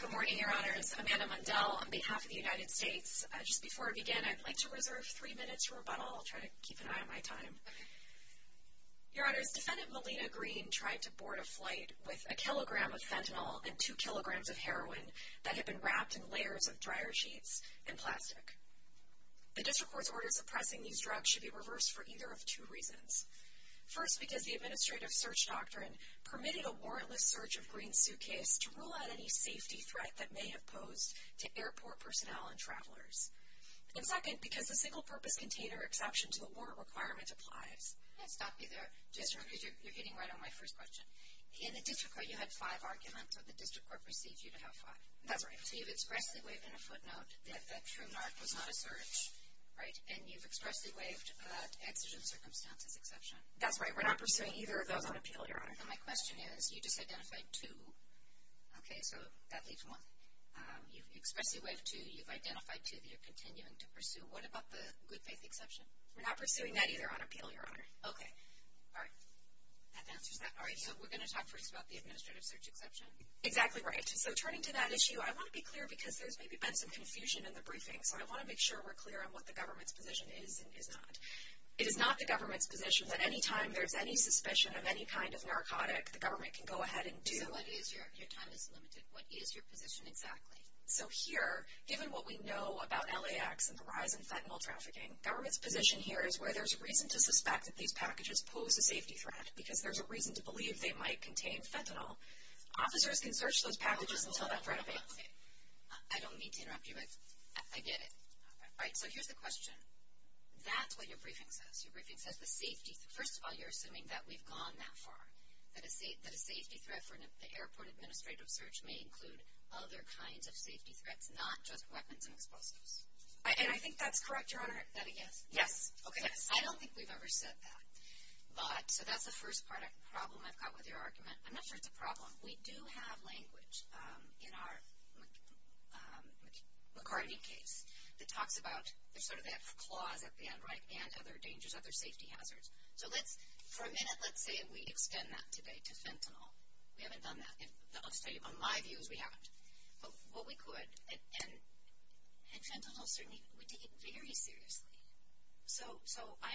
Good morning, Your Honors. Amanda Mundell on behalf of the United States. Just before I begin, I'd like to reserve three minutes for rebuttal. I'll try to keep an eye on my to board a flight with a kilogram of fentanyl and two kilograms of heroin that had been wrapped in layers of dryer sheets and plastic. The District Court's order suppressing these drugs should be reversed for either of two reasons. First, because the administrative search doctrine permitted a warrantless search of Green's suitcase to rule out any safety threat that may have posed to airport personnel and travelers. And second, because the single purpose container exception to the warrant requirement applies. I'll stop you there, because you're hitting right on my first question. In the District Court, you had five arguments, so the District Court receives you to have five. That's right. So you've expressly waived in a footnote that the true narc was not a search, right? And you've expressly waived that exigent circumstances exception. That's right. We're not pursuing either of those on appeal, Your Honor. And my question is, you just identified two. Okay, so that leaves one. You've expressly waived two, you've identified two that you're continuing to pursue. What about the good faith exception? We're not pursuing that either on appeal, Your Honor. Okay. All right. That answers that. All right, so we're going to talk first about the administrative search exception? Exactly right. So turning to that issue, I want to be clear, because there's maybe been some confusion in the briefing, so I want to make sure we're clear on what the government's position is and is not. It is not the government's position that any time there's any suspicion of any kind of narcotic, the government can go ahead and do— So what is your—your time is limited. What is your position exactly? So here, given what we know about LAX and the rise in fentanyl trafficking, government's position here is where there's a reason to suspect that these packages pose a safety threat, because there's a reason to believe they might contain fentanyl. Officers can search those packages and tell that threat away. Okay. I don't mean to interrupt you, but I get it. All right, so here's the question. That's what your briefing says. Your briefing says the safety—first of all, you're assuming that we've gone that far, that a safety threat for an airport administrative search may include other kinds of safety threats, not just weapons and explosives. And I think that's correct, Your Honor. Is that a yes? Yes. Okay. I don't think we've ever said that. But—so that's the first part of the problem I've got with your argument. I'm not sure it's a problem. We do have language in our McCartney case that talks about—there's sort of that clause at the end, right? And other dangers, other safety hazards. So let's—for a minute, let's say we extend that today to fentanyl. We haven't done that. I'll tell you, in my view, we haven't. But what we could—and fentanyl, certainly, we take it very seriously. So I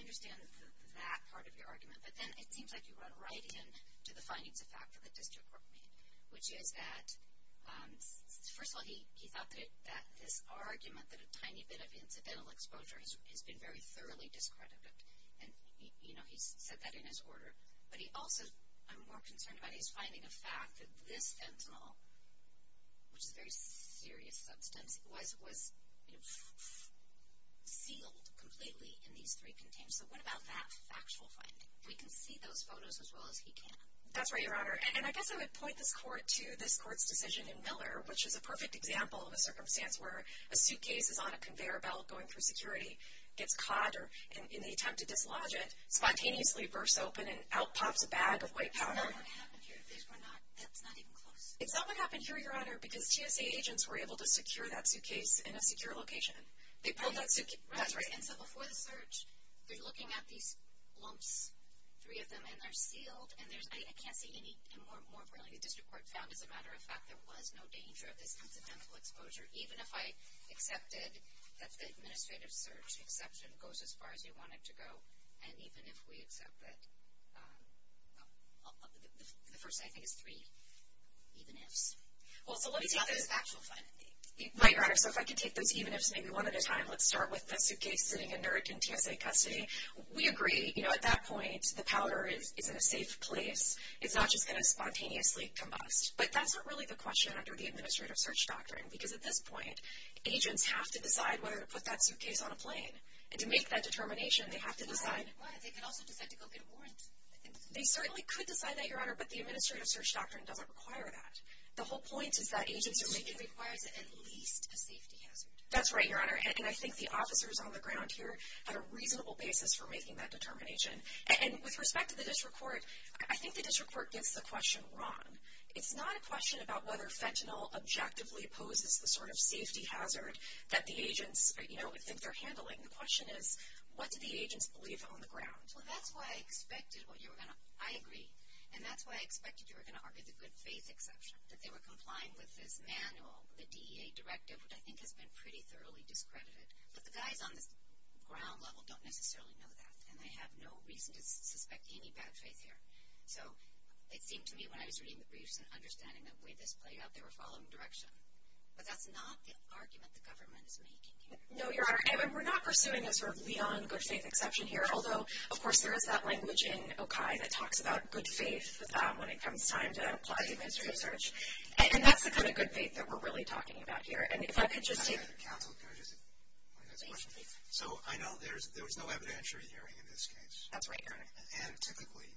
understand that part of your argument. But then it seems like you run right into the findings of fact that the district court made, which is that, first of all, he thought that this argument that a tiny bit of incidental exposure has been very thoroughly discredited. And, you know, he's said that in his order. But he also—I'm more concerned about his finding of fact that this fentanyl, which is a very serious substance, was sealed completely in these three containers. So what about that factual finding? We can see those photos as well as he can. That's right, Your Honor. And I guess I would point this court to this court's decision in Miller, which is a perfect example of a circumstance where a suitcase is on a conveyor belt going through security, gets caught in the attempt to dislodge it, spontaneously reverts open, and out pops a bag of white powder. That's not what happened here. That's not even close. It's not what happened here, Your Honor, because TSA agents were able to secure that suitcase in a secure location. They pulled that suitcase— Right. That's right. And so before the search, they're looking at these lumps, three of them, and they're sealed, and there's—I can't see any—more broadly, the district court found, as a matter of fact, there was no danger of this incidental exposure, even if I accepted that the administrative search exception goes as far as you want it to go, and even if we accept that—the first, I think, is three even ifs. Well, so let me take this factual finding. Right, Your Honor. So if I could take those even ifs maybe one at a time. Let's start with the suitcase sitting in Nuremberg in TSA custody. We agree. You know, at that point, the powder is in a safe place. It's not just going to spontaneously combust. But that's not really the question under the administrative search doctrine, because at this point, agents have to decide whether to put that suitcase on a plane. And to make that determination, they have to decide— They could also decide to go get a warrant. They certainly could decide that, Your Honor, but the administrative search doctrine doesn't require that. The whole point is that agents are making— It requires at least a safety hazard. That's right, Your Honor. And I think the officers on the ground here had a reasonable basis for making that determination. And with respect to the district court, I think the district court gets the question wrong. It's not a question about whether fentanyl objectively opposes the sort of safety hazard that the agents, you know, think they're handling. The question is, what do the agents believe on the ground? Well, that's why I expected what you were going to—I agree. And that's why I expected you were going to argue the good faith exception, that they were complying with this manual, the DEA directive, which I think has been pretty thoroughly discredited. But the guys on the ground level don't necessarily know that, and they have no reason to suspect any bad faith here. So it seemed to me when I was reading the briefs and understanding the way this played out, they were following direction. But that's not the argument the government is making here. No, Your Honor. And we're not pursuing a sort of Leon good faith exception here, although of course there is that language in OCAI that talks about good faith when it comes time to apply the administrative search. And that's the kind of good faith that we're really talking about here. And if I could just— Counsel, can I just— Please, please. So, I know there was no evidentiary hearing in this case. That's right, Your Honor. And typically,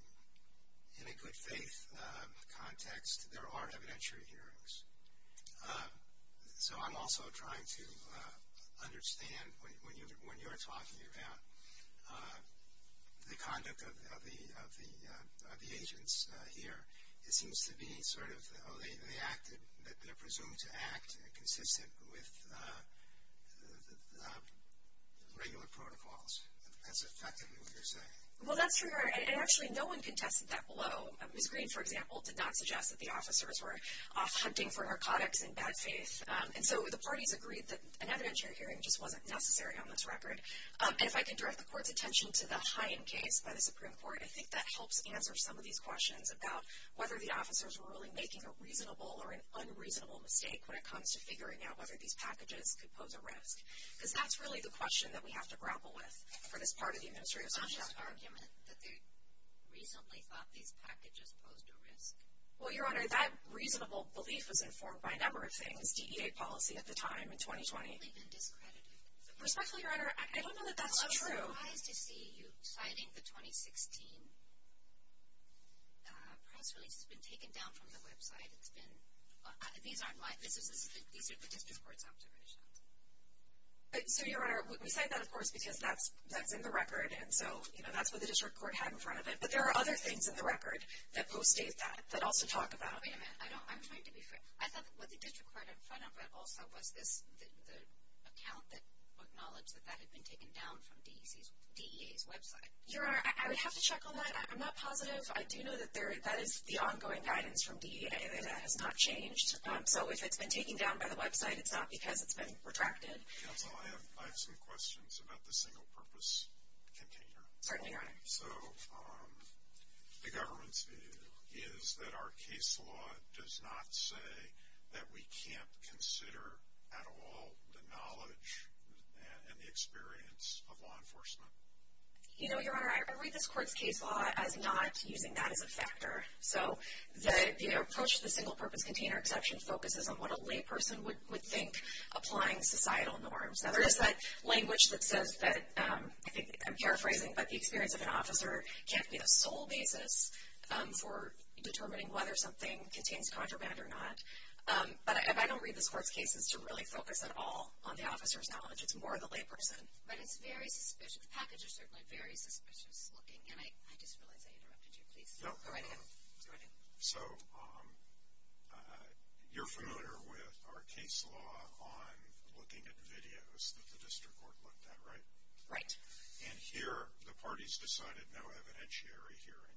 in a good faith context, there are evidentiary hearings. So I'm also trying to understand when you're talking about the conduct of the agents here, it seems to be sort of, oh, they acted, they're presumed to act consistent with regular protocols. That's effectively what you're saying. Well, that's true, Your Honor. And actually, no one contested that below. Ms. Green, for example, did not suggest that the officers were off hunting for narcotics in bad faith. And so the parties agreed that an evidentiary hearing just wasn't necessary on this record. And if I can direct the Court's attention to the Hine case by the Supreme Court, I think that helps answer some of these questions about whether the officers were really making a reasonable or an unreasonable mistake when it comes to figuring out whether these packages could pose a risk. Because that's really the question that we have to grapple with for this part of the Administrative Section. It's not just argument that they reasonably thought these packages posed a risk. Well, Your Honor, that reasonable belief was informed by a number of things, DEA policy at the time in 2020. They've simply been discredited. Respectfully, Your Honor, I don't know that that's true. Well, I'm surprised to see you citing the 2016 press release that's been taken down from the website. These are the District Court's observations. So, Your Honor, we cite that, of course, because that's in the record. And so, you know, that's what the District Court had in front of it. But there are other things in the record that post-date that, that also talk about. Wait a minute. I'm trying to be fair. I thought that what the District Court had in front of it also was the account that acknowledged that that had been taken down from DEA's website. Your Honor, I would have to check on that. I'm not positive. I do know that that is the ongoing guidance from DEA. That has not changed. So, if it's been taken down by the website, it's not because it's been retracted. Counsel, I have some questions about the single-purpose container. Certainly, Your Honor. So, the government's view is that our case law does not say that we can't consider at all the knowledge and the experience of law enforcement. You know, Your Honor, I read this court's case law as not using that as a factor. So, the approach to the single-purpose container exception focuses on what a layperson would think applying societal norms. Now, there is that language that says that, I'm paraphrasing, but the experience of an officer can't be the sole basis for determining whether something contains contraband or not. But I don't read this court's cases to really focus at all on the officer's knowledge. It's more the layperson. But it's very suspicious. The package is certainly very suspicious looking. And I just realized I interrupted you. Please, go right ahead. So, you're familiar with our case law on looking at videos that the district court looked at, right? Right. And here, the parties decided no evidentiary hearing.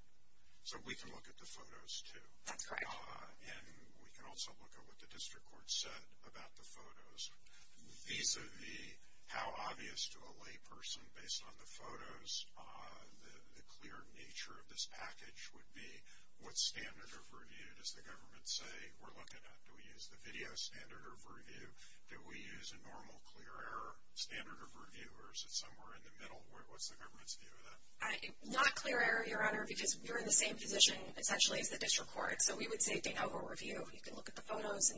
So, we can look at the photos, too. That's correct. And we can also look at what the district court said about the photos, vis-a-vis how obvious to a layperson, based on the photos, the clear nature of this package would be. What standard of review does the government say we're looking at? Do we use the video standard of review? Do we use a normal clear error standard of review? Or is it somewhere in the middle? What's the government's view of that? Not clear error, Your Honor, because we're in the same position, essentially, as the district court. So, we would say they know we'll review. You can look at the photos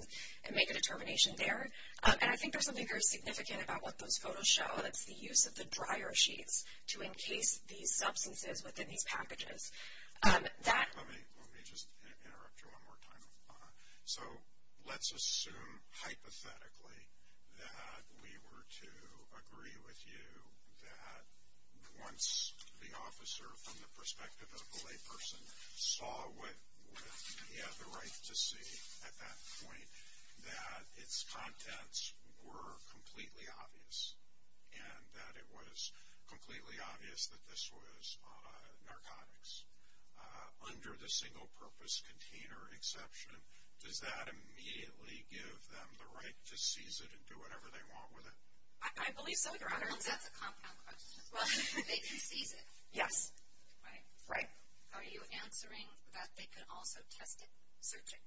and make a determination there. And I think there's something very significant about what those photos show, and it's the use of the dryer sheets to encase these substances within these packages. Let me just interrupt you one more time. So, let's assume hypothetically that we were to agree with you that once the officer, from the perspective of the layperson, saw what he had the right to see at that point, that its contents were completely obvious, and that it was completely obvious that this was narcotics. Under the single-purpose container exception, does that immediately give them the right to seize it and do whatever they want with it? I believe so, Your Honor. That's a compound question. Well, they can seize it. Yes. Right. Are you answering that they could also test it, search it?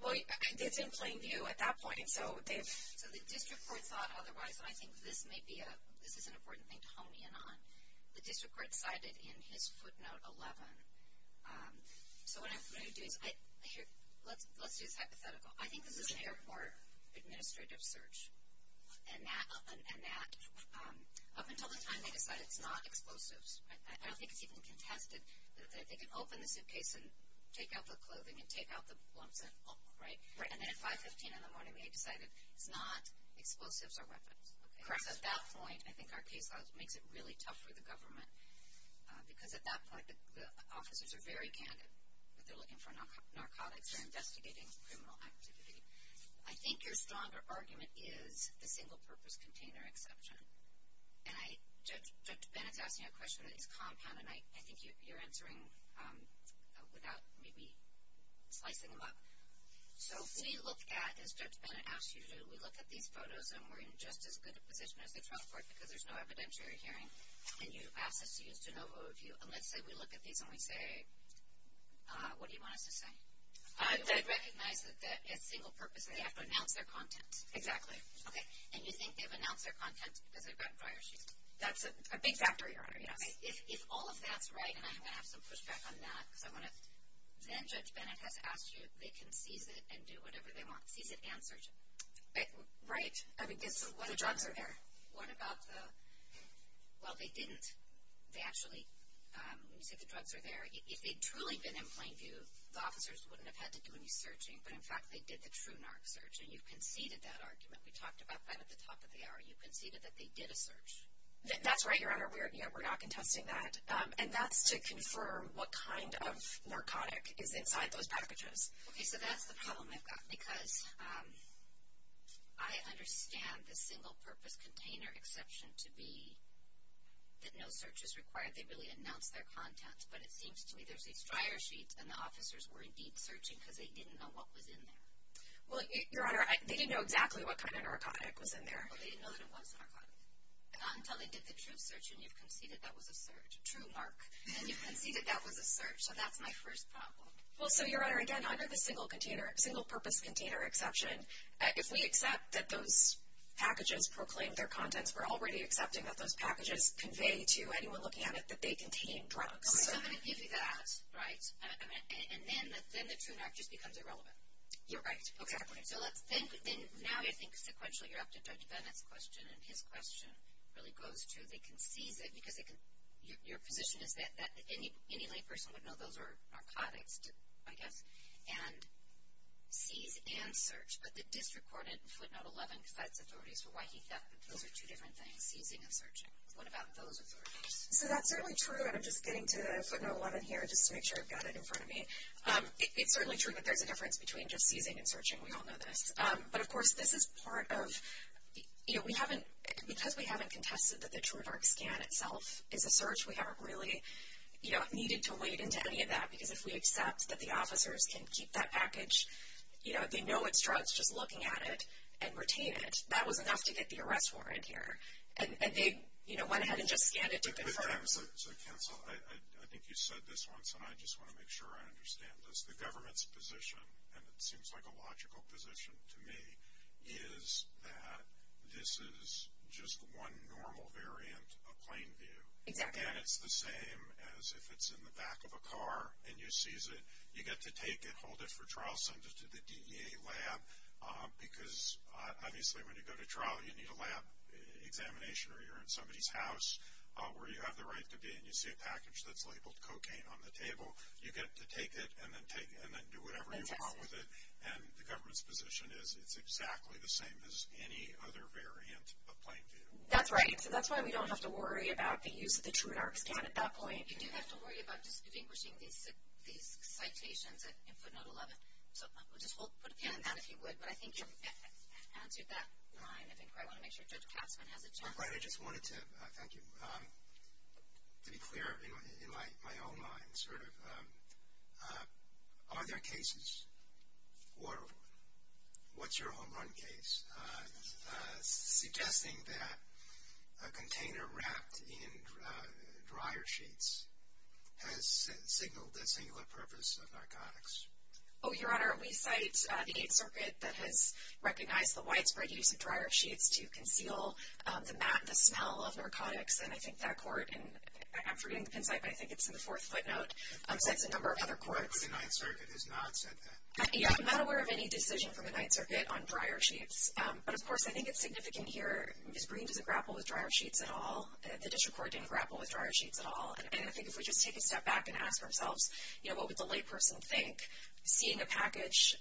Well, it's in plain view at that point. So, the district court thought otherwise, and I think this is an important thing to hone in on. The district court cited in his footnote 11. So, what I'm going to do is, let's do this hypothetical. I think this is an airport administrative search. And that, up until the time they decided it's not explosives, I don't think it's even contested, that they can open the suitcase and take out the clothing and take out the lumps and all, right? Right. And then at 5.15 in the morning, they decided it's not explosives or weapons. Correct. So, at that point, I think our case law makes it really tough for the government, because at that point, the officers are very candid. They're looking for narcotics. They're investigating criminal activity. I think your stronger argument is the single-purpose container exception. And Judge Bennett's asking a question on this compound, and I think you're answering without maybe slicing them up. So, if we look at, as Judge Bennett asked you to do, we look at these photos, and we're in just as good a position as the trial court, because there's no evidentiary hearing, and you ask us to use de novo review, and let's say we look at these and we say, what do you want us to say? They recognize that as single-purpose, they have to announce their content. Exactly. Okay. And you think they've announced their content because they've gotten prior sheets? That's a big factor, Your Honor, yes. If all of that's right, and I'm going to have some pushback on that, because I want to – then Judge Bennett has asked you, they can seize it and do whatever they want. Seize it and search it. Right. I mean, the drugs are there. What about the – well, they didn't. They actually – when you say the drugs are there, if they'd truly been in plain view, the officers wouldn't have had to do any searching. But, in fact, they did the true narc search, and you conceded that argument. We talked about that at the top of the hour. You conceded that they did a search. That's right, Your Honor. We're not contesting that. And that's to confirm what kind of narcotic is inside those packages. Okay. So that's the problem I've got, because I understand the single-purpose container exception to be that no search is required. They really announce their content, but it seems to me there's these dryer sheets, and the officers were indeed searching because they didn't know what was in there. Well, Your Honor, they didn't know exactly what kind of narcotic was in there. Well, they didn't know that it was a narcotic. Not until they did the true search, and you've conceded that was a search. True, Mark. And you've conceded that was a search. So that's my first problem. Well, so, Your Honor, again, under the single-purpose container exception, if we accept that those packages proclaim their contents, we're already accepting that those packages convey to anyone looking at it that they contain drugs. Okay, so I'm going to give you that, right? And then the true narc just becomes irrelevant. You're right, exactly. So let's think, and now I think sequentially you're up to Judge Bennett's question, and his question really goes to they conceded, because your position is that any layperson would know those are narcotics, I guess, and seize and search, but the disregarded footnote 11 cites authorities for why he thought those are two different things, seizing and searching. What about those authorities? So that's certainly true, and I'm just getting to footnote 11 here just to make sure I've got it in front of me. It's certainly true that there's a difference between just seizing and searching. We all know this. But, of course, this is part of, you know, we haven't, because we haven't contested that the true narc scan itself is a search, we haven't really, you know, needed to wade into any of that, because if we accept that the officers can keep that package, you know, they know it's drugs just looking at it and retain it. That was enough to get the arrest warrant here. And they, you know, went ahead and just scanned it to confirm. So, counsel, I think you said this once, and I just want to make sure I understand this. The government's position, and it seems like a logical position to me, is that this is just one normal variant of plain view. Exactly. And it's the same as if it's in the back of a car and you seize it. You get to take it, hold it for trial, send it to the DEA lab, because obviously when you go to trial you need a lab examination or you're in somebody's house where you have the right to be and you see a package that's labeled cocaine on the table. You get to take it and then do whatever you want with it. And the government's position is it's exactly the same as any other variant of plain view. That's right. So that's why we don't have to worry about the use of the TrueNarc scan at that point. You do have to worry about distinguishing these citations in footnote 11. So just put a pin in that if you would. But I think you've answered that line. I think I want to make sure Judge Katzman has it, too. I'm glad. I just wanted to thank you. To be clear in my own mind, sort of, are there cases for what's your home run case? Suggesting that a container wrapped in dryer sheets has signaled a singular purpose of narcotics. Oh, Your Honor, we cite the Eighth Circuit that has recognized the widespread use of dryer sheets to conceal the smell of narcotics. And I think that court, and I'm forgetting the pin site, but I think it's in the fourth footnote, cites a number of other courts. The Ninth Circuit has not said that. Yeah, I'm not aware of any decision from the Ninth Circuit on dryer sheets. But, of course, I think it's significant here. Ms. Green doesn't grapple with dryer sheets at all. The district court didn't grapple with dryer sheets at all. And I think if we just take a step back and ask ourselves, you know, what would the layperson think, seeing a package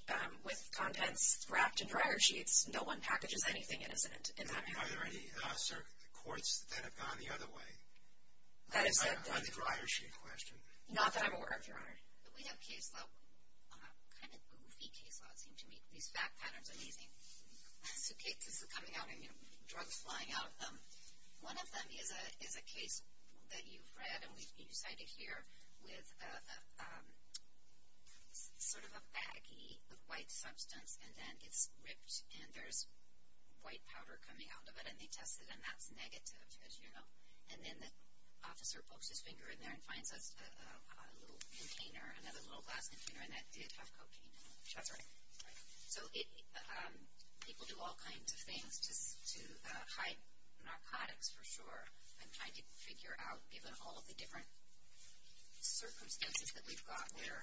with contents wrapped in dryer sheets, no one packages anything innocent in that manner. Are there any courts that have gone the other way on the dryer sheet question? Not that I'm aware of, Your Honor. We have case law, kind of goofy case law, it seems to me. These fact patterns are amazing. So cases are coming out, and, you know, drugs flying out of them. One of them is a case that you've read, and you cited here, with sort of a baggie of white substance, and then it's ripped, and there's white powder coming out of it, and they test it, and that's negative, as you know. And then the officer pokes his finger in there and finds a little container, another little glass container, and that did have cocaine in it. That's right. Right. So people do all kinds of things to hide narcotics, for sure. I'm trying to figure out, given all the different circumstances that we've got, where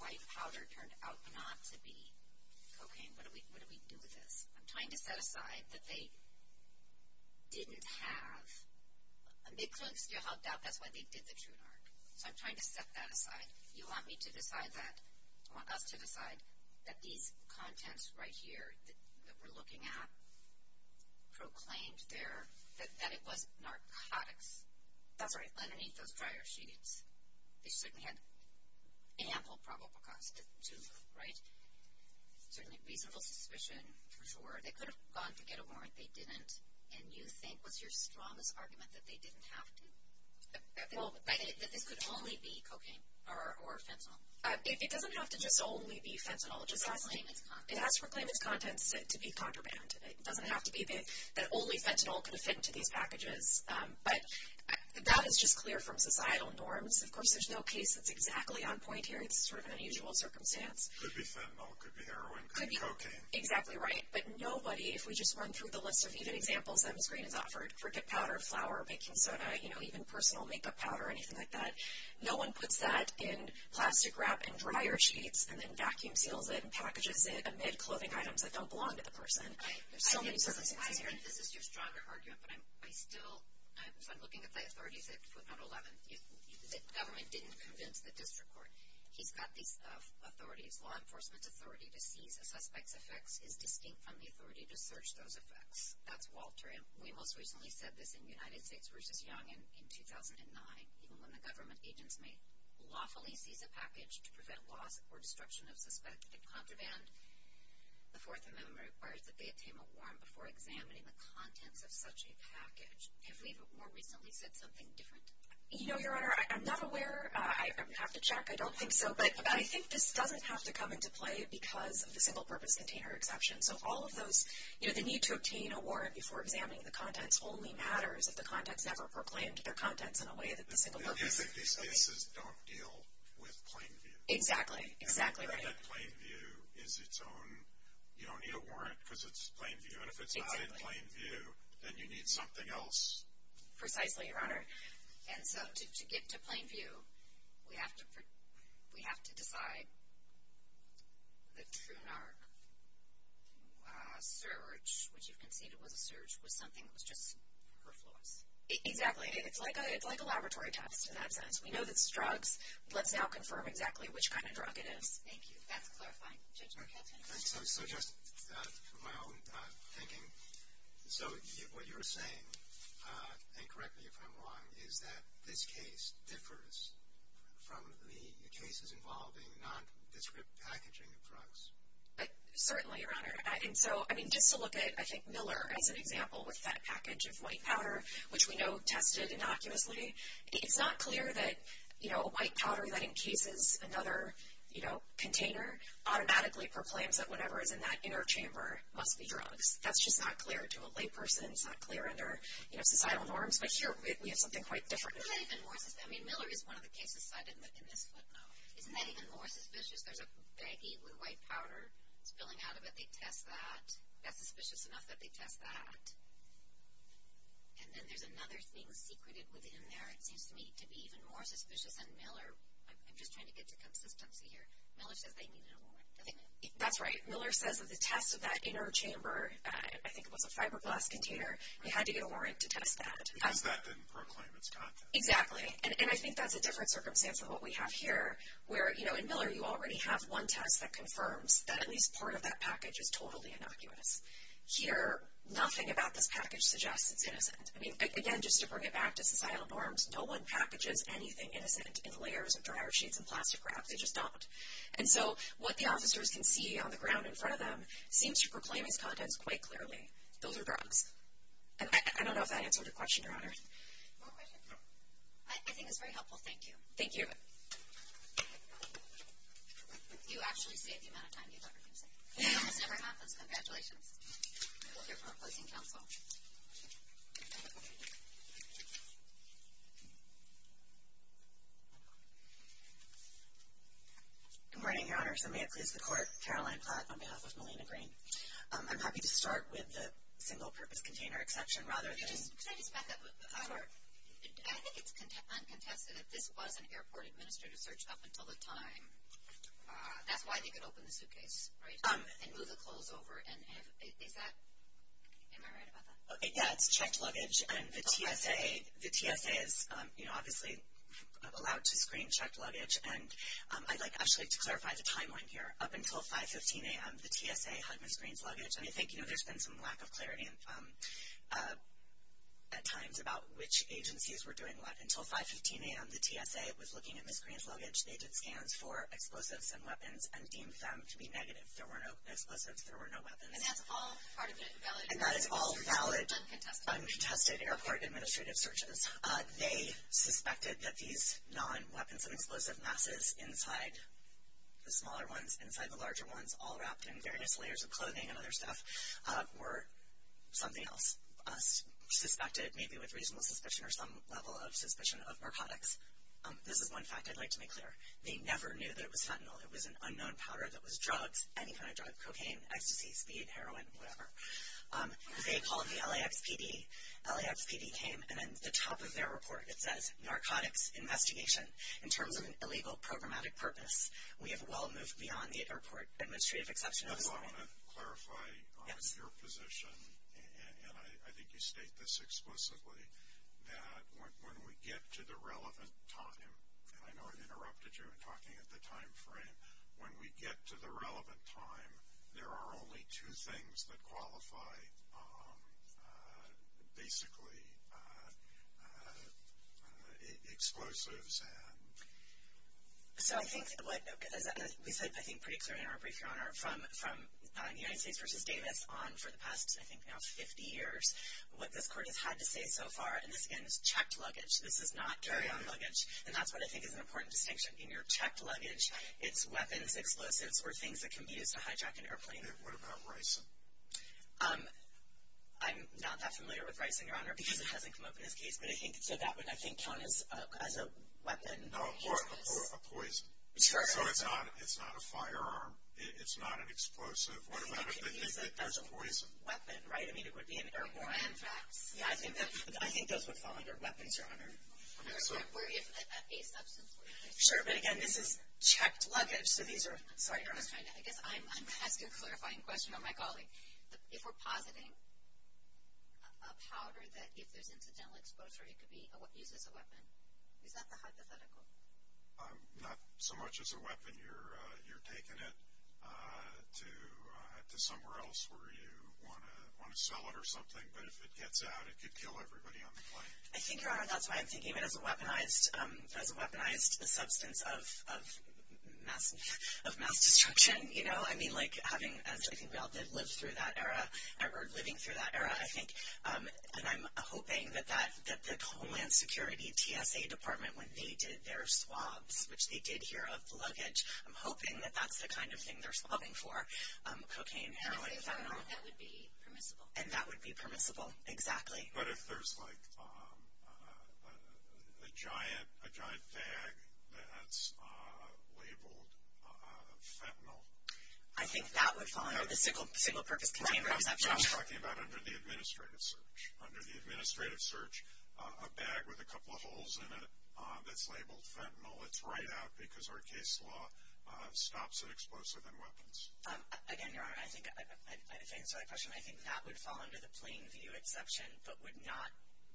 white powder turned out not to be cocaine, what do we do with this? I'm trying to set aside that they didn't have, and they couldn't still have doubt that's why they did the true narc. So I'm trying to set that aside. You want me to decide that? I want us to decide that these contents right here that we're looking at proclaimed there that it was narcotics. That's right. Underneath those dryer sheets. They certainly had ample probable cause to, right? Certainly reasonable suspicion, for sure. They could have gone to get a warrant. They didn't. And you think, what's your strongest argument, that they didn't have to? That this could only be cocaine or fentanyl. It doesn't have to just only be fentanyl. It has to proclaim its contents to be contraband. It doesn't have to be that only fentanyl could have fit into these packages. But that is just clear from societal norms. Of course, there's no case that's exactly on point here. It's sort of an unusual circumstance. It could be fentanyl. It could be heroin. It could be cocaine. Exactly right. But nobody, if we just run through the list of even examples that Ms. Green has offered, cricket powder, flour, baking soda, even personal makeup powder, anything like that, no one puts that in plastic wrap and dryer sheets and then vacuum seals it and packages it amid clothing items that don't belong to the person. There's so many circumstances here. I think this is your stronger argument. But I'm still looking at the authorities at footnote 11. The government didn't convince the district court. He's got these authorities. Law enforcement's authority to seize a suspect's effects is distinct from the authority to search those effects. That's Walter. And we most recently said this in United States v. Young in 2009. Even when the government agents may lawfully seize a package to prevent loss or destruction of suspected contraband, the Fourth Amendment requires that they obtain a warrant before examining the contents of such a package. Have we more recently said something different? You know, Your Honor, I'm not aware. I would have to check. I don't think so. But I think this doesn't have to come into play because of the single-purpose container exception. So all of those, you know, the need to obtain a warrant before examining the contents only matters if the contents never proclaimed their contents in a way that the single-purpose. These cases don't deal with plain view. Exactly. Exactly right. And I've heard that plain view is its own, you don't need a warrant because it's plain view. And if it's not in plain view, then you need something else. Precisely, Your Honor. And so to get to plain view, we have to decide the true NARC surge, which you've conceded was a surge, was something that was just perfluous. Exactly. It's like a laboratory test in that sense. We know that it's drugs. Let's now confirm exactly which kind of drug it is. Thank you. That's clarifying. Judge Markelton. So just for my own thinking, so what you're saying, and correct me if I'm wrong, is that this case differs from the cases involving nondescript packaging of drugs. Certainly, Your Honor. And so, I mean, just to look at, I think, Miller as an example with that package of white powder, which we know tested innocuously, it's not clear that, you know, a white powder that encases another, you know, container, automatically proclaims that whatever is in that inner chamber must be drugs. That's just not clear to a layperson. It's not clear under, you know, societal norms. But here we have something quite different. I mean, Miller is one of the cases cited in this footnote. Isn't that even more suspicious? There's a baggie with white powder spilling out of it. They test that. That's suspicious enough that they test that. And then there's another thing secreted within there. It seems to me to be even more suspicious than Miller. I'm just trying to get to consistency here. Miller says they needed a warrant. Doesn't it? That's right. Miller says that the test of that inner chamber, I think it was a fiberglass container, they had to get a warrant to test that. Because that didn't proclaim its content. Exactly. And I think that's a different circumstance than what we have here, where, you know, in Miller, you already have one test that confirms that at least part of that package is totally innocuous. Here, nothing about this package suggests it's innocent. I mean, again, just to bring it back to societal norms, no one packages anything innocent in layers of dryer sheets and plastic wraps. They just don't. And so what the officers can see on the ground in front of them seems to proclaim its contents quite clearly. Those are drugs. And I don't know if that answered your question, Your Honor. More questions? No. I think it's very helpful. Thank you. Thank you. You actually saved the amount of time you thought we were going to save. It almost never happens. Congratulations. We'll hear from our opposing counsel. Good morning, Your Honor. So may it please the Court, Caroline Platt on behalf of Melina Green. I'm happy to start with the single-purpose container exception rather than... Could I just back up? Sure. I think it's uncontested that this was an airport administrative search up until the time. That's why they could open the suitcase, right? And move the clothes over. And is that... Am I right about that? Yeah, it's checked luggage. And the TSA is, you know, obviously allowed to screen checked luggage. And I'd like actually to clarify the timeline here. Up until 5.15 a.m. the TSA had Ms. Green's luggage. And I think, you know, there's been some lack of clarity at times about which agencies were doing what. Until 5.15 a.m. the TSA was looking at Ms. Green's luggage. They did scans for explosives and weapons and deemed them to be negative. There were no explosives. There were no weapons. And that's all part of it valid... And that is all valid... Uncontested. Uncontested airport administrative searches. They suspected that these non-weapons and explosive masses inside the smaller ones, inside the larger ones, all wrapped in various layers of clothing and other stuff, were something else. Suspected maybe with reasonable suspicion or some level of suspicion of narcotics. This is one fact I'd like to make clear. They never knew that it was fentanyl. It was an unknown powder that was drugs, any kind of drug, cocaine, ecstasy, speed, heroin, whatever. They called the LAXPD. LAXPD came and at the top of their report it says, narcotics investigation in terms of an illegal programmatic purpose. We have well moved beyond the airport administrative exception. I want to clarify on your position, and I think you state this explicitly, that when we get to the relevant time, and I know I interrupted you in talking at the time frame, when we get to the relevant time, there are only two things that qualify basically explosives. So I think what we said I think pretty clearly in our brief, Your Honor, from United States v. Davis on for the past I think now 50 years, what this court has had to say so far, and this again is checked luggage. This is not carry-on luggage, and that's what I think is an important distinction. In your checked luggage, it's weapons, explosives, or things that can be used to hijack an airplane. What about ricin? I'm not that familiar with ricin, Your Honor, because it hasn't come up in this case, but I think so that would I think count as a weapon. No, a poison. So it's not a firearm. It's not an explosive. What about if they think that there's a poison? A weapon, right? I mean, it would be an airborne. I think those would fall under weapons, Your Honor. Or if a substance were used. Sure, but again, this is checked luggage, so these are, sorry, Your Honor. I guess I'm asking a clarifying question. Oh, my golly. If we're positing a powder that if there's incidental exposure, it could be used as a weapon, is that the hypothetical? Not so much as a weapon. You're taking it to somewhere else where you want to sell it or something, but if it gets out, it could kill everybody on the plane. I think, Your Honor, that's why I'm thinking of it as a weaponized substance of mass destruction. And, you know, I mean, like having, as I think we all did live through that era, or living through that era, I think, and I'm hoping that the Homeland Security TSA Department, when they did their swabs, which they did here of the luggage, I'm hoping that that's the kind of thing they're swabbing for, cocaine, heroin, fentanyl. That would be permissible. And that would be permissible, exactly. But if there's, like, a giant bag that's labeled fentanyl. I think that would fall under the single-purpose container exception. I'm just talking about under the administrative search. Under the administrative search, a bag with a couple of holes in it that's labeled fentanyl, it's right out because our case law stops at explosive and weapons. Again, Your Honor, I think, if I can answer that question, I think that would fall under the plain view exception, but would not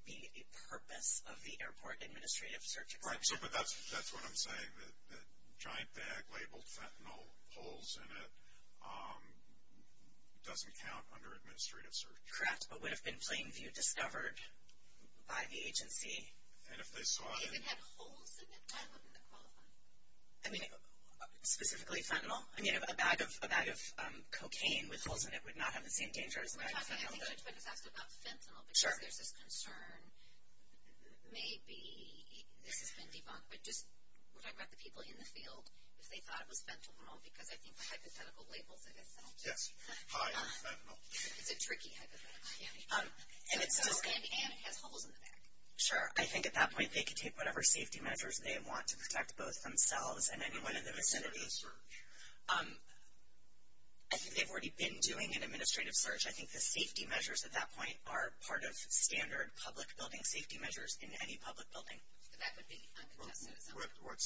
be a purpose of the airport administrative search exception. But that's what I'm saying, that giant bag labeled fentanyl, holes in it, doesn't count under administrative search. Correct, but would have been plain view discovered by the agency. And if they saw it. If it had holes in it, I wouldn't have qualified. I mean, specifically fentanyl? I mean, a bag of cocaine with holes in it would not have the same danger as a bag of fentanyl. We're talking about fentanyl because there's this concern. Maybe this has been debunked, but just we're talking about the people in the field, if they thought it was fentanyl because I think the hypothetical labels it as fentanyl. Yes, high in fentanyl. It's a tricky hypothetical. And it has holes in the bag. Sure, I think at that point they could take whatever safety measures they want to protect both themselves and anyone in the vicinity. I think they've already been doing an administrative search. I think the safety measures at that point are part of standard public building safety measures in any public building. What's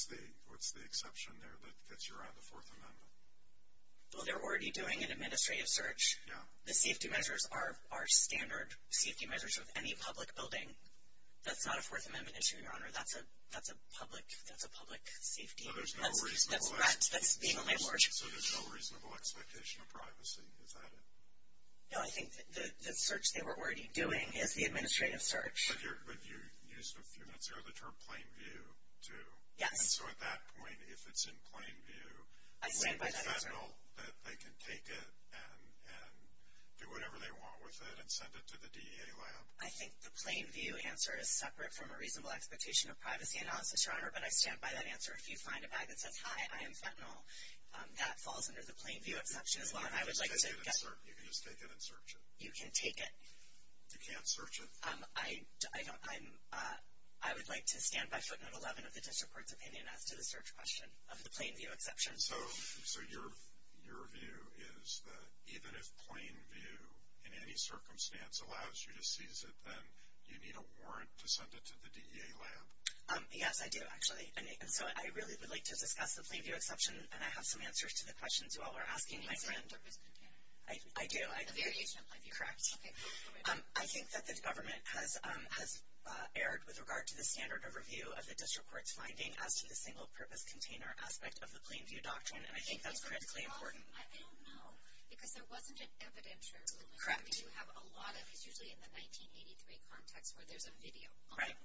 the exception there that gets you around the Fourth Amendment? Well, they're already doing an administrative search. The safety measures are standard safety measures of any public building. That's not a Fourth Amendment issue, Your Honor. That's a public safety. So there's no reasonable expectation of privacy. Is that it? No, I think the search they were already doing is the administrative search. But you used a few minutes ago the term plain view, too. Yes. So at that point, if it's in plain view, is it fentanyl that they can take it and do whatever they want with it and send it to the DEA lab? I think the plain view answer is separate from a reasonable expectation of privacy analysis, Your Honor. But I stand by that answer. If you find a bag that says, hi, I am fentanyl, that falls under the plain view exception as well. You can just take it and search it. You can take it. You can't search it? I would like to stand by footnote 11 of the district court's opinion as to the search question of the plain view exception. So your view is that even if plain view in any circumstance allows you to seize it, then you need a warrant to send it to the DEA lab? Yes, I do, actually. And so I really would like to discuss the plain view exception, and I have some answers to the questions you all are asking, my friend. A single-purpose container. I do. A variation of plain view. Correct. I think that the government has erred with regard to the standard of review of the district court's finding as to the single-purpose container aspect of the plain view doctrine, and I think that's critically important. I don't know, because there wasn't an evidentiary. Correct. I mean, you have a lot of these usually in the 1983 context where there's a video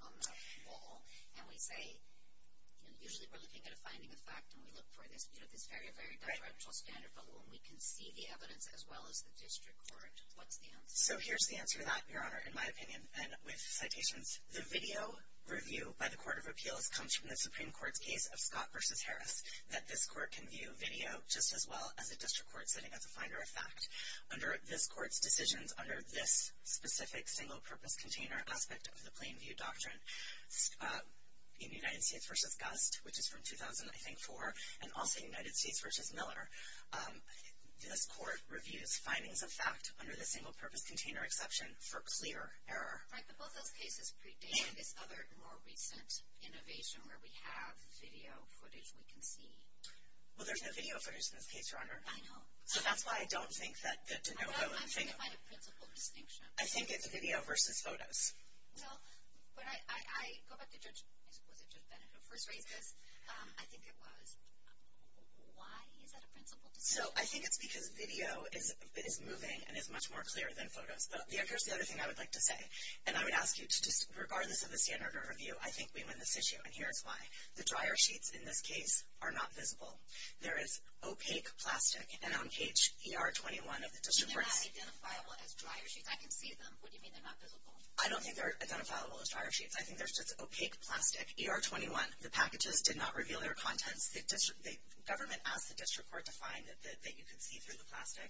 on the wall, and we say usually we're looking at a finding of fact, and we look for this. We have this very, very direct standard of review, and we can see the evidence as well as the district court. What's the answer? So here's the answer to that, Your Honor, in my opinion, and with citations. The video review by the Court of Appeals comes from the Supreme Court's case of Scott v. Harris, that this court can view video just as well as a district court sitting as a finder of fact. Under this court's decisions under this specific single-purpose container aspect of the plain view doctrine, in United States v. Gust, which is from 2004, and also United States v. Miller, this court reviews findings of fact under the single-purpose container exception for clear error. Right, but both those cases predate this other, more recent innovation where we have video footage we can see. Well, there's no video footage in this case, Your Honor. I know. So that's why I don't think that DeNovo and Vigo. I'm trying to find a principal distinction. I think it's video versus photos. Well, but I go back to Judge Bennett who first raised this. I think it was. Why is that a principal distinction? So I think it's because video is moving and is much more clear than photos. Here's the other thing I would like to say, and I would ask you to just, regardless of the standard of review, I think we win this issue, and here's why. The dryer sheets in this case are not visible. There is opaque plastic, and on page ER21 of the district court's. But they're not identifiable as dryer sheets. I can see them. What do you mean they're not visible? I don't think they're identifiable as dryer sheets. I think there's just opaque plastic. ER21, the packages did not reveal their contents. The government asked the district court to find that you could see through the plastic,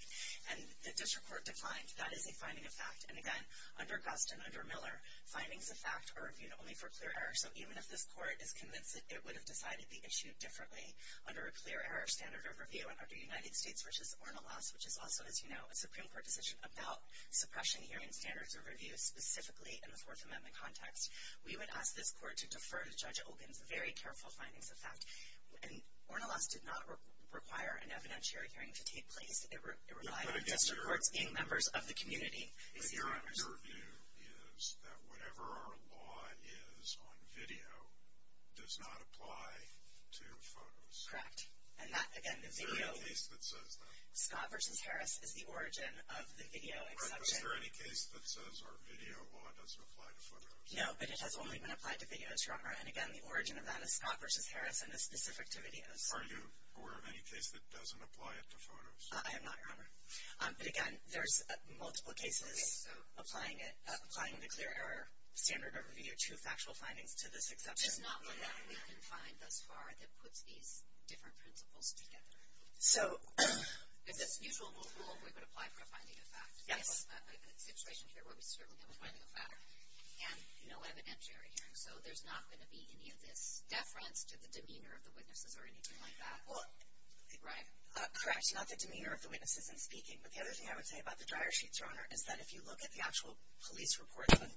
and the district court defined that as a finding of fact. And, again, under Gust and under Miller, findings of fact are reviewed only for clear error. So even if this court is convinced that it would have decided the issue differently under a clear error standard of review and under United States v. Ornelas, which is also, as you know, a Supreme Court decision about suppression hearing standards of review, specifically in the Fourth Amendment context, we would ask this court to defer to Judge Olkin's very careful findings of fact. And Ornelas did not require an evidentiary hearing to take place. It relied on district courts being members of the community. The correct review is that whatever our law is on video does not apply to photos. Correct. And that, again, is video. Is there any case that says that? Scott v. Harris is the origin of the video exception. But is there any case that says our video law doesn't apply to photos? No, but it has only been applied to videos, Your Honor. And, again, the origin of that is Scott v. Harris and is specific to videos. Are you aware of any case that doesn't apply it to photos? I am not, Your Honor. But, again, there's multiple cases applying it, applying the clear error standard over video to factual findings to this exception. There's not one that we can find thus far that puts these different principles together. So. Is this usual rule we would apply for a finding of fact? Yes. We have a situation here where we certainly have a finding of fact and no evidentiary hearing. So there's not going to be any of this deference to the demeanor of the witnesses or anything like that, right? Correct. Not the demeanor of the witnesses in speaking. But the other thing I would say about the dryer sheets, Your Honor, is that if you look at the actual police reports of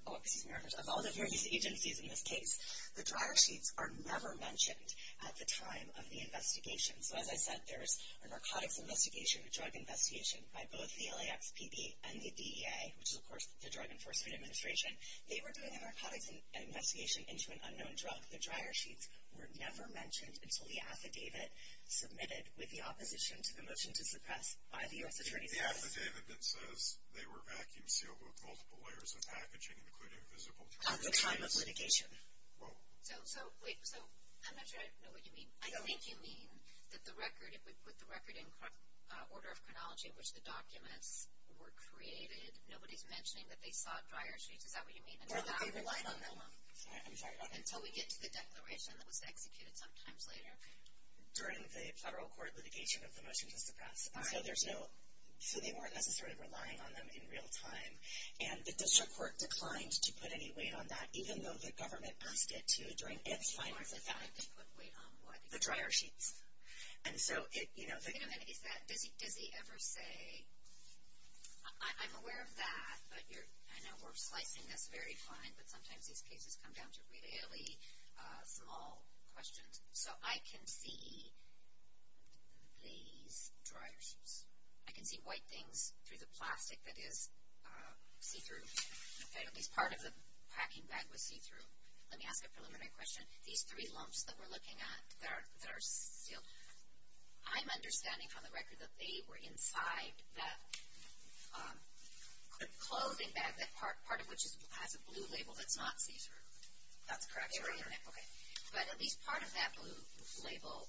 all the various agencies in this case, the dryer sheets are never mentioned at the time of the investigation. So, as I said, there was a narcotics investigation, a drug investigation, by both the LAXPD and the DEA, which is, of course, the Drug Enforcement Administration. They were doing a narcotics investigation into an unknown drug. The dryer sheets were never mentioned until the affidavit submitted with the opposition to the motion to suppress by the U.S. Attorney's Office. It's the affidavit that says they were vacuum sealed with multiple layers of packaging, including visible tear gas. At the time of litigation. Whoa. So, wait. So, I'm not sure I know what you mean. I think you mean that the record, if we put the record in order of chronology in which the documents were created, nobody's mentioning that they sought dryer sheets. Is that what you mean? Or that they relied on them. I'm sorry. Until we get to the declaration that was executed sometimes later. During the federal court litigation of the motion to suppress. All right. So, there's no, so they weren't necessarily relying on them in real time. And the district court declined to put any weight on that, even though the government asked it to during its final attack. Or they put weight on what? The dryer sheets. And so, it, you know. Wait a minute. Is that, does he ever say, I'm aware of that, but you're, I know we're slicing this very fine, but sometimes these cases come down to really small questions. So, I can see these dryer sheets. I can see white things through the plastic that is see-through. Okay. At least part of the packing bag was see-through. Let me ask a preliminary question. These three lumps that we're looking at that are sealed, I'm understanding from the record that they were inside that clothing bag, part of which has a blue label that's not see-through. That's correct, Your Honor. Okay. But at least part of that blue label,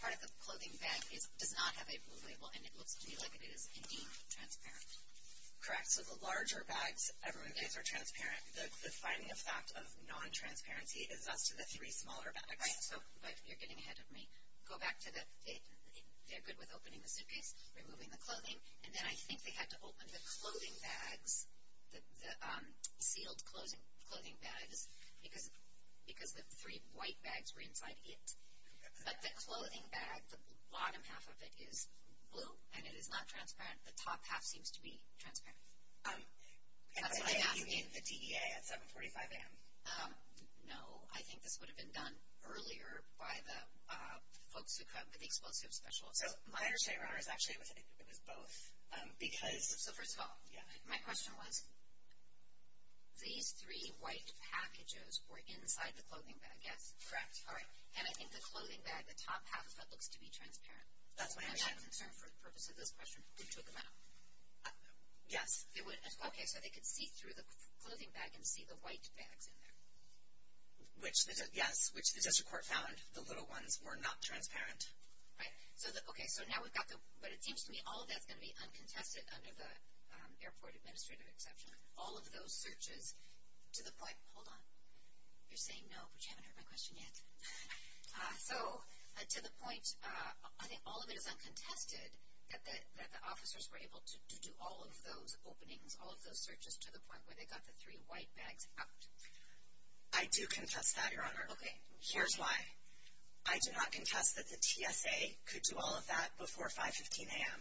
part of the clothing bag does not have a blue label, and it looks to me like it is, indeed, transparent. Correct. So, the larger bags everyone gets are transparent. The defining effect of non-transparency is as to the three smaller bags. Right. So, but you're getting ahead of me. Go back to the, they're good with opening the suitcase, removing the clothing, and then I think they had to open the clothing bags, the sealed clothing bags, because the three white bags were inside it. But the clothing bag, the bottom half of it is blue, and it is not transparent. The top half seems to be transparent. That's what I'm asking. You mean the DEA at 7.45 a.m.? No. I think this would have been done earlier by the folks who come, the explosive specialists. So, my understanding is actually it was both, because. So, first of all. Yeah. My question was, these three white packages were inside the clothing bag. Yes. Correct. All right. And I think the clothing bag, the top half of it looks to be transparent. That's my understanding. And I'm concerned for the purpose of this question, who took them out? Yes. Okay. So, they could see through the clothing bag and see the white bags in there. Which, yes, which the district court found the little ones were not transparent. Right. Okay. So, now we've got the. But it seems to me all of that's going to be uncontested under the airport administrative exception. All of those searches to the point. Hold on. You're saying no, but you haven't heard my question yet. So, to the point, I think all of it is uncontested that the officers were able to do all of those openings, all of those searches to the point where they got the three white bags out. I do contest that, Your Honor. Okay. Here's why. I do not contest that the TSA could do all of that before 5.15 a.m.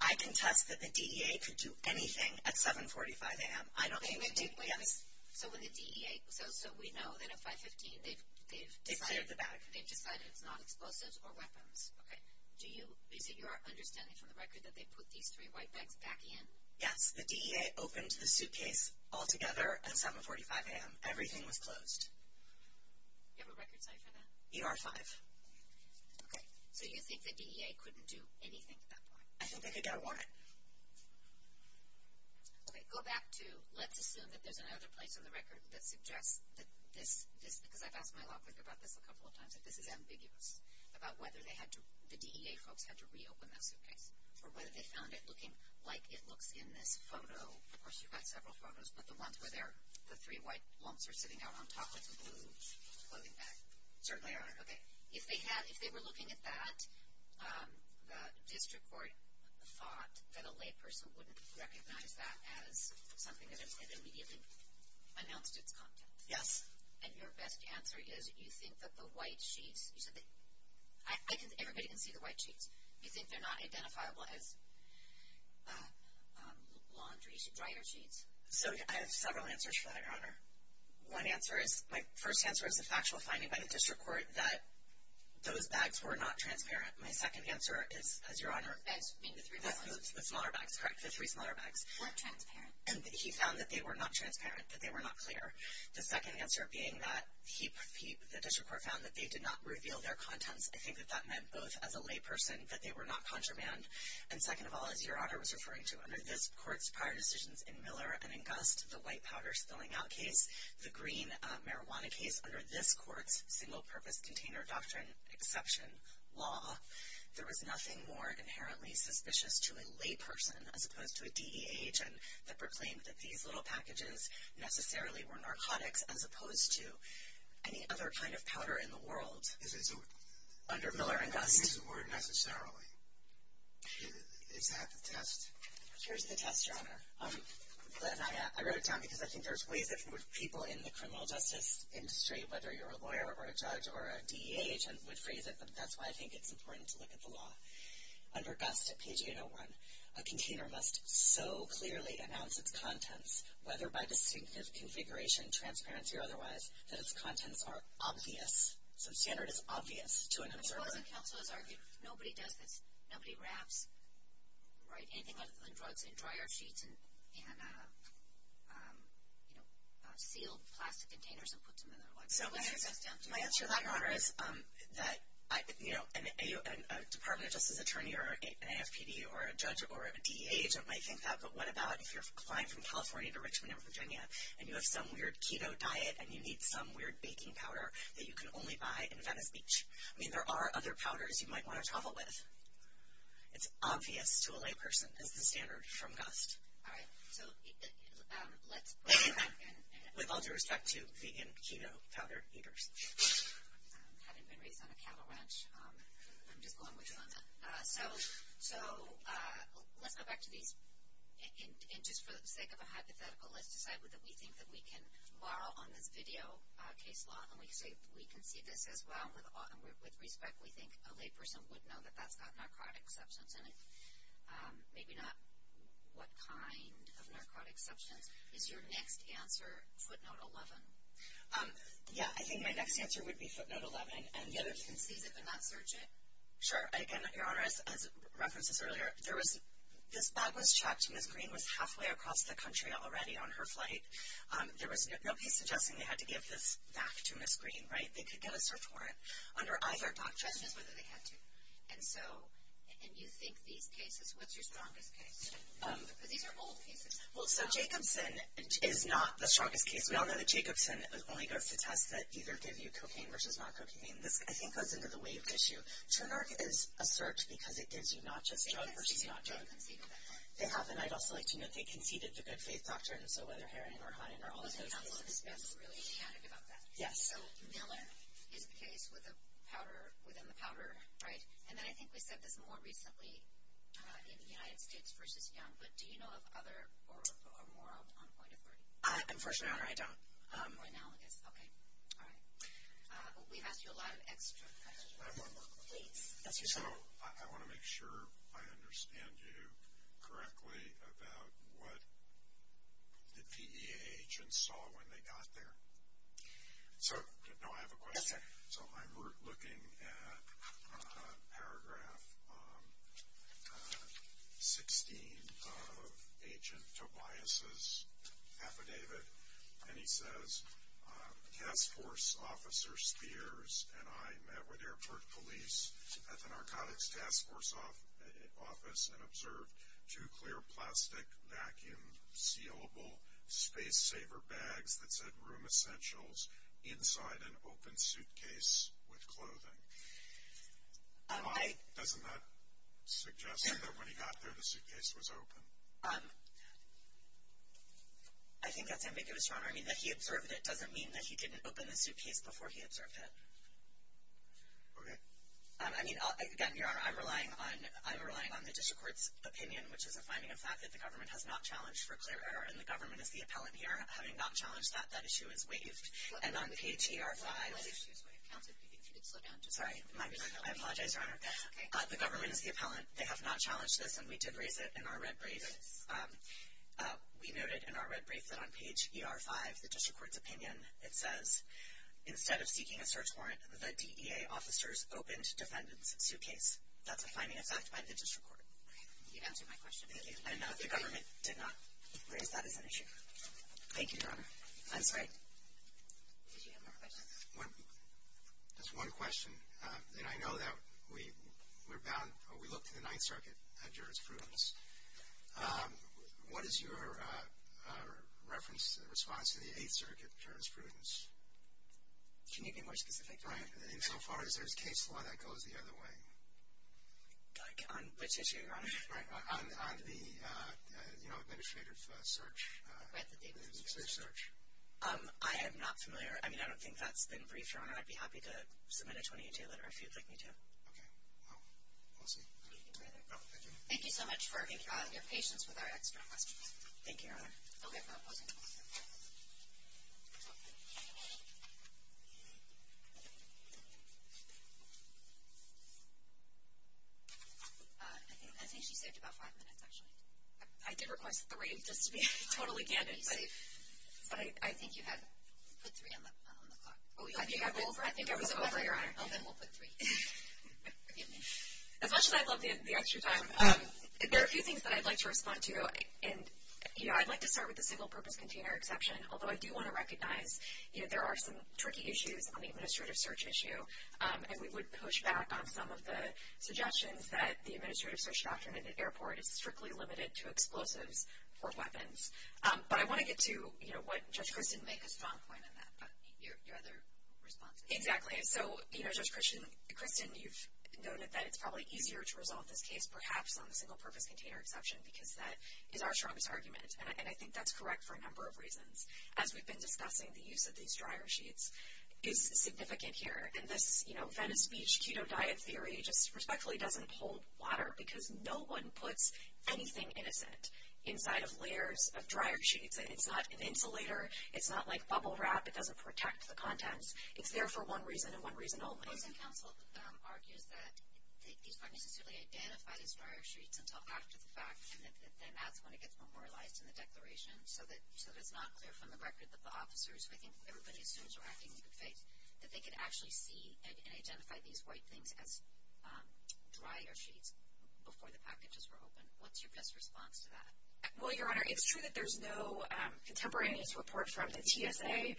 I contest that the DEA could do anything at 7.45 a.m. I don't think. Wait, wait, wait. Yes. So, when the DEA. So, we know that at 5.15 they've. They've cleared the bag. They've decided it's not explosives or weapons. Okay. Do you. Is it your understanding from the record that they put these three white bags back in? Yes. The DEA opened the suitcase altogether at 7.45 a.m. Everything was closed. Do you have a record site for that? ER-5. Okay. So, you think the DEA couldn't do anything at that point? I don't think they got a warrant. Okay. Go back to, let's assume that there's another place on the record that suggests that this, because I've asked my law clerk about this a couple of times, that this is ambiguous, about whether they had to, the DEA folks had to reopen that suitcase, or whether they found it looking like it looks in this photo. Of course, you've got several photos, but the ones where the three white lumps are sitting out on top of the blue clothing bag certainly aren't. Okay. If they were looking at that, the district court thought that a layperson wouldn't recognize that as something that had immediately announced its contents. Yes. And your best answer is you think that the white sheets, you said that, everybody can see the white sheets. You think they're not identifiable as laundry, dryer sheets? So I have several answers for that, Your Honor. One answer is, my first answer is a factual finding by the district court that those bags were not transparent. My second answer is, as Your Honor, the smaller bags, correct, the three smaller bags. Weren't transparent. And he found that they were not transparent, that they were not clear. The second answer being that the district court found that they did not reveal their contents. I think that that meant both as a layperson that they were not contraband, and second of all, as Your Honor was referring to, under this court's prior decisions in Miller and Gust, the white powder spilling out case, the green marijuana case, under this court's single purpose container doctrine exception law, there was nothing more inherently suspicious to a layperson as opposed to a DEH that proclaimed that these little packages necessarily were narcotics as opposed to any other kind of powder in the world. Under Miller and Gust. It doesn't use the word necessarily. Is that the test? Here's the test, Your Honor. I wrote it down because I think there's ways that people in the criminal justice industry, whether you're a lawyer or a judge or a DEH, would phrase it, but that's why I think it's important to look at the law. Under Gust at page 801, a container must so clearly announce its contents, whether by distinctive configuration, transparency, or otherwise, that its contents are obvious. So the standard is obvious to an observer. Because the counsel has argued nobody does this, nobody wraps anything other than drugs in dryer sheets and sealed plastic containers and puts them in their locker. My answer to that, Your Honor, is that a Department of Justice attorney or an AFPD or a judge or a DEH agent might think that, but what about if you're applying from California to Richmond or Virginia and you have some weird keto diet and you need some weird baking powder that you can only buy in Venice Beach? I mean, there are other powders you might want to travel with. It's obvious to a layperson is the standard from Gust. All right. So let's go back. With all due respect to vegan keto powder eaters. I haven't been raised on a cattle ranch. I'm just going with you on that. So let's go back to these. And just for the sake of a hypothetical, let's decide whether we think that we can borrow on this video case law. And we can see this as well. And with respect, we think a layperson would know that that's got narcotic substance in it. Maybe not what kind of narcotic substance. Is your next answer footnote 11? Yeah. I think my next answer would be footnote 11. You can seize it but not search it? Sure. Again, Your Honor, as referenced earlier, this bag was checked. Ms. Green was halfway across the country already on her flight. There was no case suggesting they had to give this back to Ms. Green, right? They could get a search warrant under either doctrine. The question is whether they had to. And you think these cases, what's your strongest case? Because these are old cases. Well, so Jacobson is not the strongest case. We all know that Jacobson only goes to tests that either give you cocaine versus not cocaine. This, I think, goes into the wave issue. So narc is a search because it gives you not just drug versus not drug. They conceded to good faith doctrine. They have, and I'd also like to note they conceded to good faith doctrine, so whether heroin or high end or all of those things. Well, the counsel has been really candid about that. Yes. So Miller is the case within the powder, right? And then I think we said this more recently in the United States versus Young, but do you know of other or more on point authority? Unfortunately, Your Honor, I don't. More analogous. Okay. All right. We've asked you a lot of extra questions. Please. Yes, Your Honor. So I want to make sure I understand you correctly about what the PEA agents saw when they got there. No, I have a question. Yes, sir. So I'm looking at paragraph 16 of Agent Tobias' affidavit, and he says task force officer Spears and I met with airport police at the narcotics task force office and observed two clear plastic vacuum sealable space saver bags that said room essentials inside an open suitcase with clothing. Doesn't that suggest that when he got there the suitcase was open? I think that's ambiguous, Your Honor. I mean, that he observed it doesn't mean that he didn't open the suitcase before he observed it. Okay. I mean, again, Your Honor, I'm relying on the district court's opinion, which is a finding of fact that the government has not challenged for clear error, and the government is the appellant here. Having not challenged that, that issue is waived. And on page ER5, sorry, I apologize, Your Honor. The government is the appellant. They have not challenged this, and we did raise it in our red brief. We noted in our red brief that on page ER5, the district court's opinion, it says, instead of seeking a search warrant, the DEA officers opened defendant's suitcase. That's a finding of fact by the district court. You answered my question. Thank you. And the government did not raise that as an issue. Thank you, Your Honor. I'm sorry. Did you have more questions? Just one question. And I know that we're bound, we looked at the Ninth Circuit jurisprudence. What is your reference, response to the Eighth Circuit jurisprudence? Can you be more specific? Right. And so far, is there a case law that goes the other way? Like on which issue, Your Honor? On the, you know, administrative search. Right, the administrative search. I am not familiar. I mean, I don't think that's been briefed, Your Honor. I'd be happy to submit a 28-day letter if you'd like me to. Okay. Well, we'll see. Thank you so much for your patience with our extra questions. Thank you, Your Honor. Okay. For opposing the motion. I think she saved about five minutes, actually. I did request three, just to be totally candid. But I think you had put three on the clock. I think I was over, Your Honor. Then we'll put three. As much as I'd love the extra time, there are a few things that I'd like to respond to. And, you know, I'd like to start with the single-purpose container exception. Although I do want to recognize, you know, there are some tricky issues on the administrative search issue. And we would push back on some of the suggestions that the administrative search doctrine at an airport is strictly limited to explosives or weapons. But I want to get to, you know, what Judge Christin made a strong point on that. Your other response. Exactly. So, you know, Judge Christin, you've noted that it's probably easier to resolve this case, perhaps, on the single-purpose container exception, because that is our strongest argument. And I think that's correct for a number of reasons. As we've been discussing, the use of these dryer sheets is significant here. And this, you know, Venice Beach keto diet theory just respectfully doesn't hold water, because no one puts anything innocent inside of layers of dryer sheets. And it's not an insulator. It's not like bubble wrap. It doesn't protect the contents. It's there for one reason and one reason only. Housing Council argues that these aren't necessarily identified as dryer sheets until after the fact, and that then that's when it gets memorialized in the declaration, so that it's not clear from the record that the officers, who I think everybody assumes are acting in good faith, that they could actually see and identify these white things as dryer sheets before the packages were opened. What's your best response to that? Well, Your Honor, it's true that there's no contemporaneous report from the TSA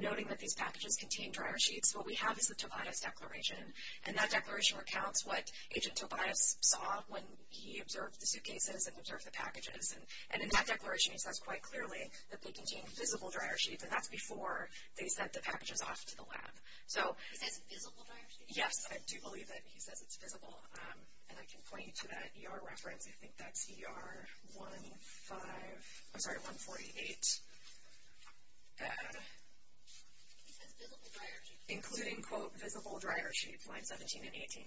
noting that these packages contain dryer sheets. What we have is the Tobias Declaration, and that declaration recounts what Agent Tobias saw when he observed the suitcases and observed the packages. And in that declaration, he says quite clearly that they contain visible dryer sheets, and that's before they sent the packages off to the lab. He says visible dryer sheets? Yes, I do believe that he says it's visible. And I can point you to that ER reference. I think that's ER 148. He says visible dryer sheets. Including, quote, visible dryer sheets, lines 17 and 18.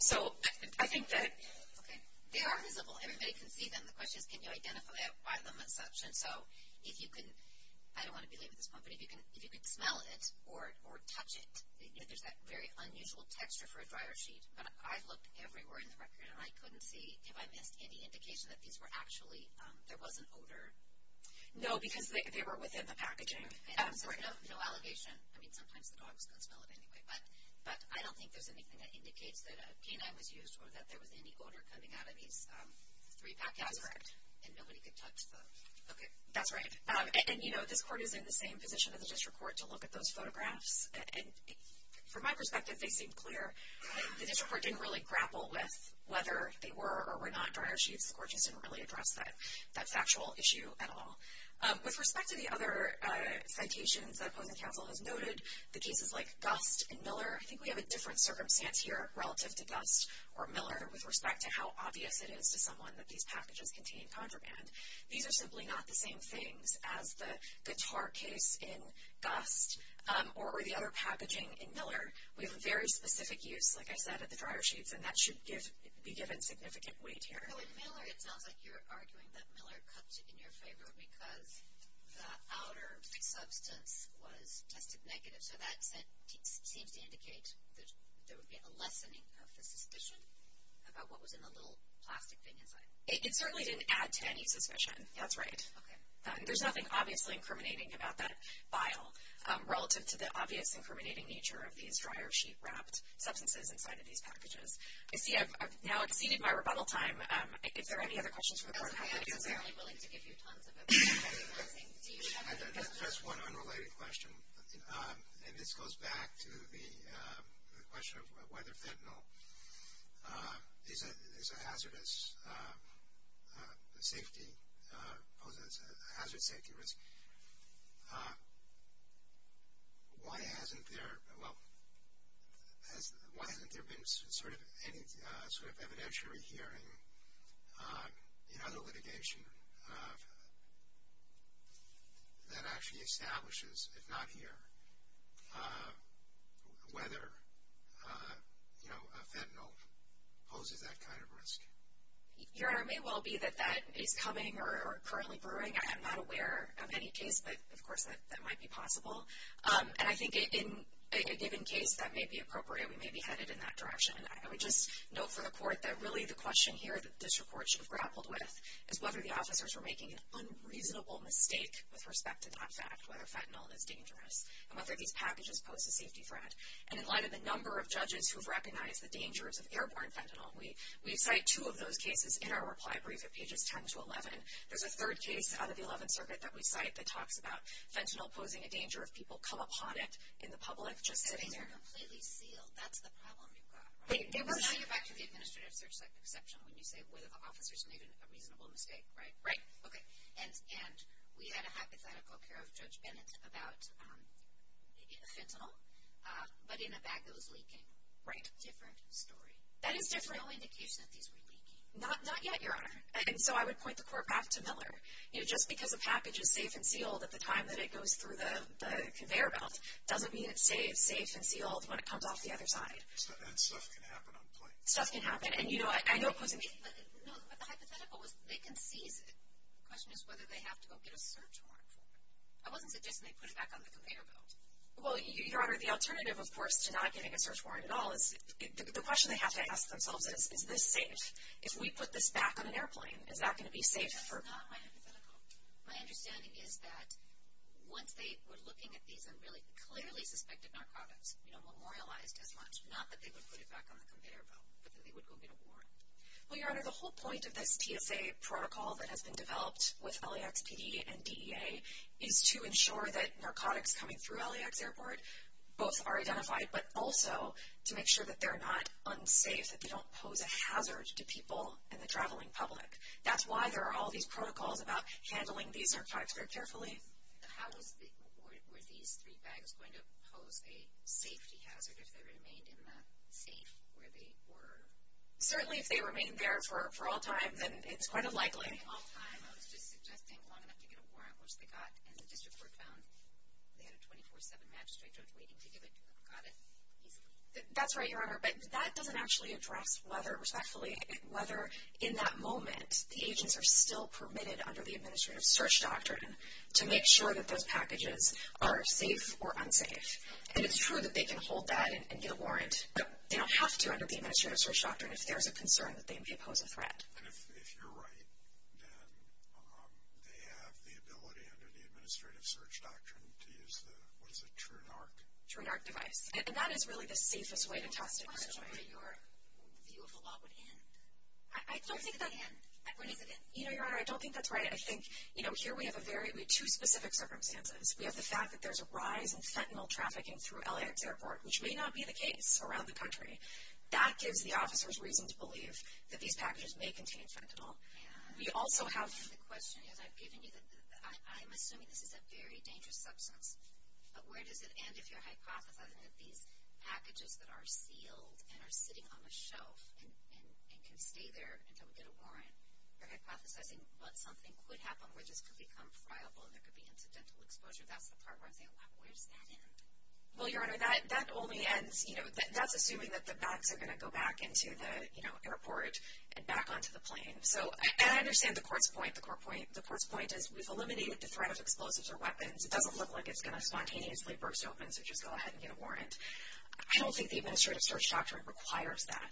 So I think that... Okay, they are visible. Everybody can see them. The question is can you identify them as such? And so if you can, I don't want to be late with this one, but if you can smell it or touch it, there's that very unusual texture for a dryer sheet. But I've looked everywhere in the record, and I couldn't see if I missed any indication that these were actually, there was an odor. No, because they were within the packaging. No, no allegation. I mean, sometimes the dogs can smell it anyway. But I don't think there's anything that indicates that a canine was used or that there was any odor coming out of these three packages. That's correct. And nobody could touch them. Okay. That's right. And, you know, this court is in the same position as the district court to look at those photographs. And from my perspective, they seemed clear. The district court didn't really grapple with whether they were or were not dryer sheets. The court just didn't really address that factual issue at all. With respect to the other citations that opposing counsel has noted, the cases like Gust and Miller, I think we have a different circumstance here relative to Gust or Miller with respect to how obvious it is to someone that these packages contain contraband. These are simply not the same things as the guitar case in Gust or the other packaging in Miller. We have a very specific use, like I said, of the dryer sheets. And that should be given significant weight here. In Miller, it sounds like you're arguing that Miller cut in your favor because the outer substance was tested negative. So that seems to indicate that there would be a lessening of the suspicion about what was in the little plastic thing inside. It certainly didn't add to any suspicion. That's right. There's nothing obviously incriminating about that vial relative to the obvious incriminating nature of these dryer sheet-wrapped substances inside of these packages. I see I've now exceeded my rebuttal time. Is there any other questions from the court? I'm not necessarily willing to give you tons of advice. Do you have any questions? Just one unrelated question. And this goes back to the question of whether fentanyl is a hazardous safety, poses a hazard safety risk. Why hasn't there been sort of any sort of evidentiary hearing in other litigation that actually establishes, if not here, whether, you know, fentanyl poses that kind of risk? Your Honor, it may well be that that is coming or currently brewing. I am not aware of any case, but, of course, that might be possible. And I think in a given case, that may be appropriate. We may be headed in that direction. I would just note for the court that really the question here that the district court should have grappled with is whether the officers were making an unreasonable mistake with respect to that fact, whether fentanyl is dangerous, and whether these packages pose a safety threat. And in light of the number of judges who have recognized the dangers of airborne fentanyl, we cite two of those cases in our reply brief at pages 10 to 11. There's a third case out of the 11th Circuit that we cite that talks about fentanyl posing a danger if people come upon it in the public just sitting there. If they're completely sealed, that's the problem you've got, right? Now you're back to the administrative search section when you say whether the officers made a reasonable mistake, right? Right. Okay. And we had a hypothetical here of Judge Bennett about fentanyl, but in a bag that was leaking. Right. Different story. That is different. There's no indication that these were leaking. Not yet, Your Honor. And so I would point the court back to Miller. You know, just because a package is safe and sealed at the time that it goes through the conveyor belt doesn't mean it's safe and sealed when it comes off the other side. And stuff can happen on planes. Stuff can happen. And, you know, I know it poses a danger. No, but the hypothetical was they can seize it. The question is whether they have to go get a search warrant for it. I wasn't suggesting they put it back on the conveyor belt. Well, Your Honor, the alternative, of course, to not getting a search warrant at all is, the question they have to ask themselves is, is this safe? If we put this back on an airplane, is that going to be safe? That's not my hypothetical. My understanding is that once they were looking at these and really clearly suspected narcotics, you know, memorialized as much, not that they would put it back on the conveyor belt, but that they would go get a warrant. Well, Your Honor, the whole point of this PSA protocol that has been developed with LAX PD and DEA is to ensure that narcotics coming through LAX Airport both are identified, but also to make sure that they're not unsafe, that they don't pose a hazard to people and the traveling public. That's why there are all these protocols about handling these narcotics very carefully. Okay. How were these three bags going to pose a safety hazard if they remained in that safe where they were? Certainly, if they remained there for all time, then it's quite unlikely. All time? I was just suggesting long enough to get a warrant, which they got, and the district court found they had a 24-7 magistrate judge waiting to give it to them. Got it? Easily. That's right, Your Honor, but that doesn't actually address whether, respectfully, whether in that moment the agents are still permitted under the administrative search doctrine to make sure that those packages are safe or unsafe. And it's true that they can hold that and get a warrant, but they don't have to under the administrative search doctrine if there's a concern that they may pose a threat. And if you're right, then they have the ability under the administrative search doctrine to use the, what is it, TrueNarc? TrueNarc device, and that is really the safest way to test it. I'm not sure where your view of the law would end. I don't think that. Where does it end? You know, Your Honor, I don't think that's right. I think, you know, here we have two specific circumstances. We have the fact that there's a rise in fentanyl trafficking through LAX Airport, which may not be the case around the country. That gives the officers reason to believe that these packages may contain fentanyl. And the question is, I've given you the, I'm assuming this is a very dangerous substance, but where does it end if you're hypothesizing that these packages that are sealed and are sitting on the shelf and can stay there until we get a warrant, you're hypothesizing that something could happen where this could become friable and there could be incidental exposure. That's the part where I'm saying, wow, where does that end? Well, Your Honor, that only ends, you know, that's assuming that the bags are going to go back into the, you know, airport and back onto the plane. So, and I understand the court's point. The court's point is we've eliminated the threat of explosives or weapons. It doesn't look like it's going to spontaneously burst open, so just go ahead and get a warrant. I don't think the administrative search doctrine requires that.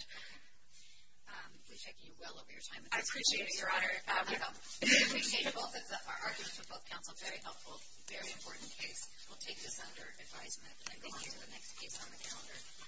We thank you well over your time. I appreciate it, Your Honor. I appreciate both of the arguments of both counsel. Very helpful. Very important case. We'll take this under advisement and go on to the next case on the calendar.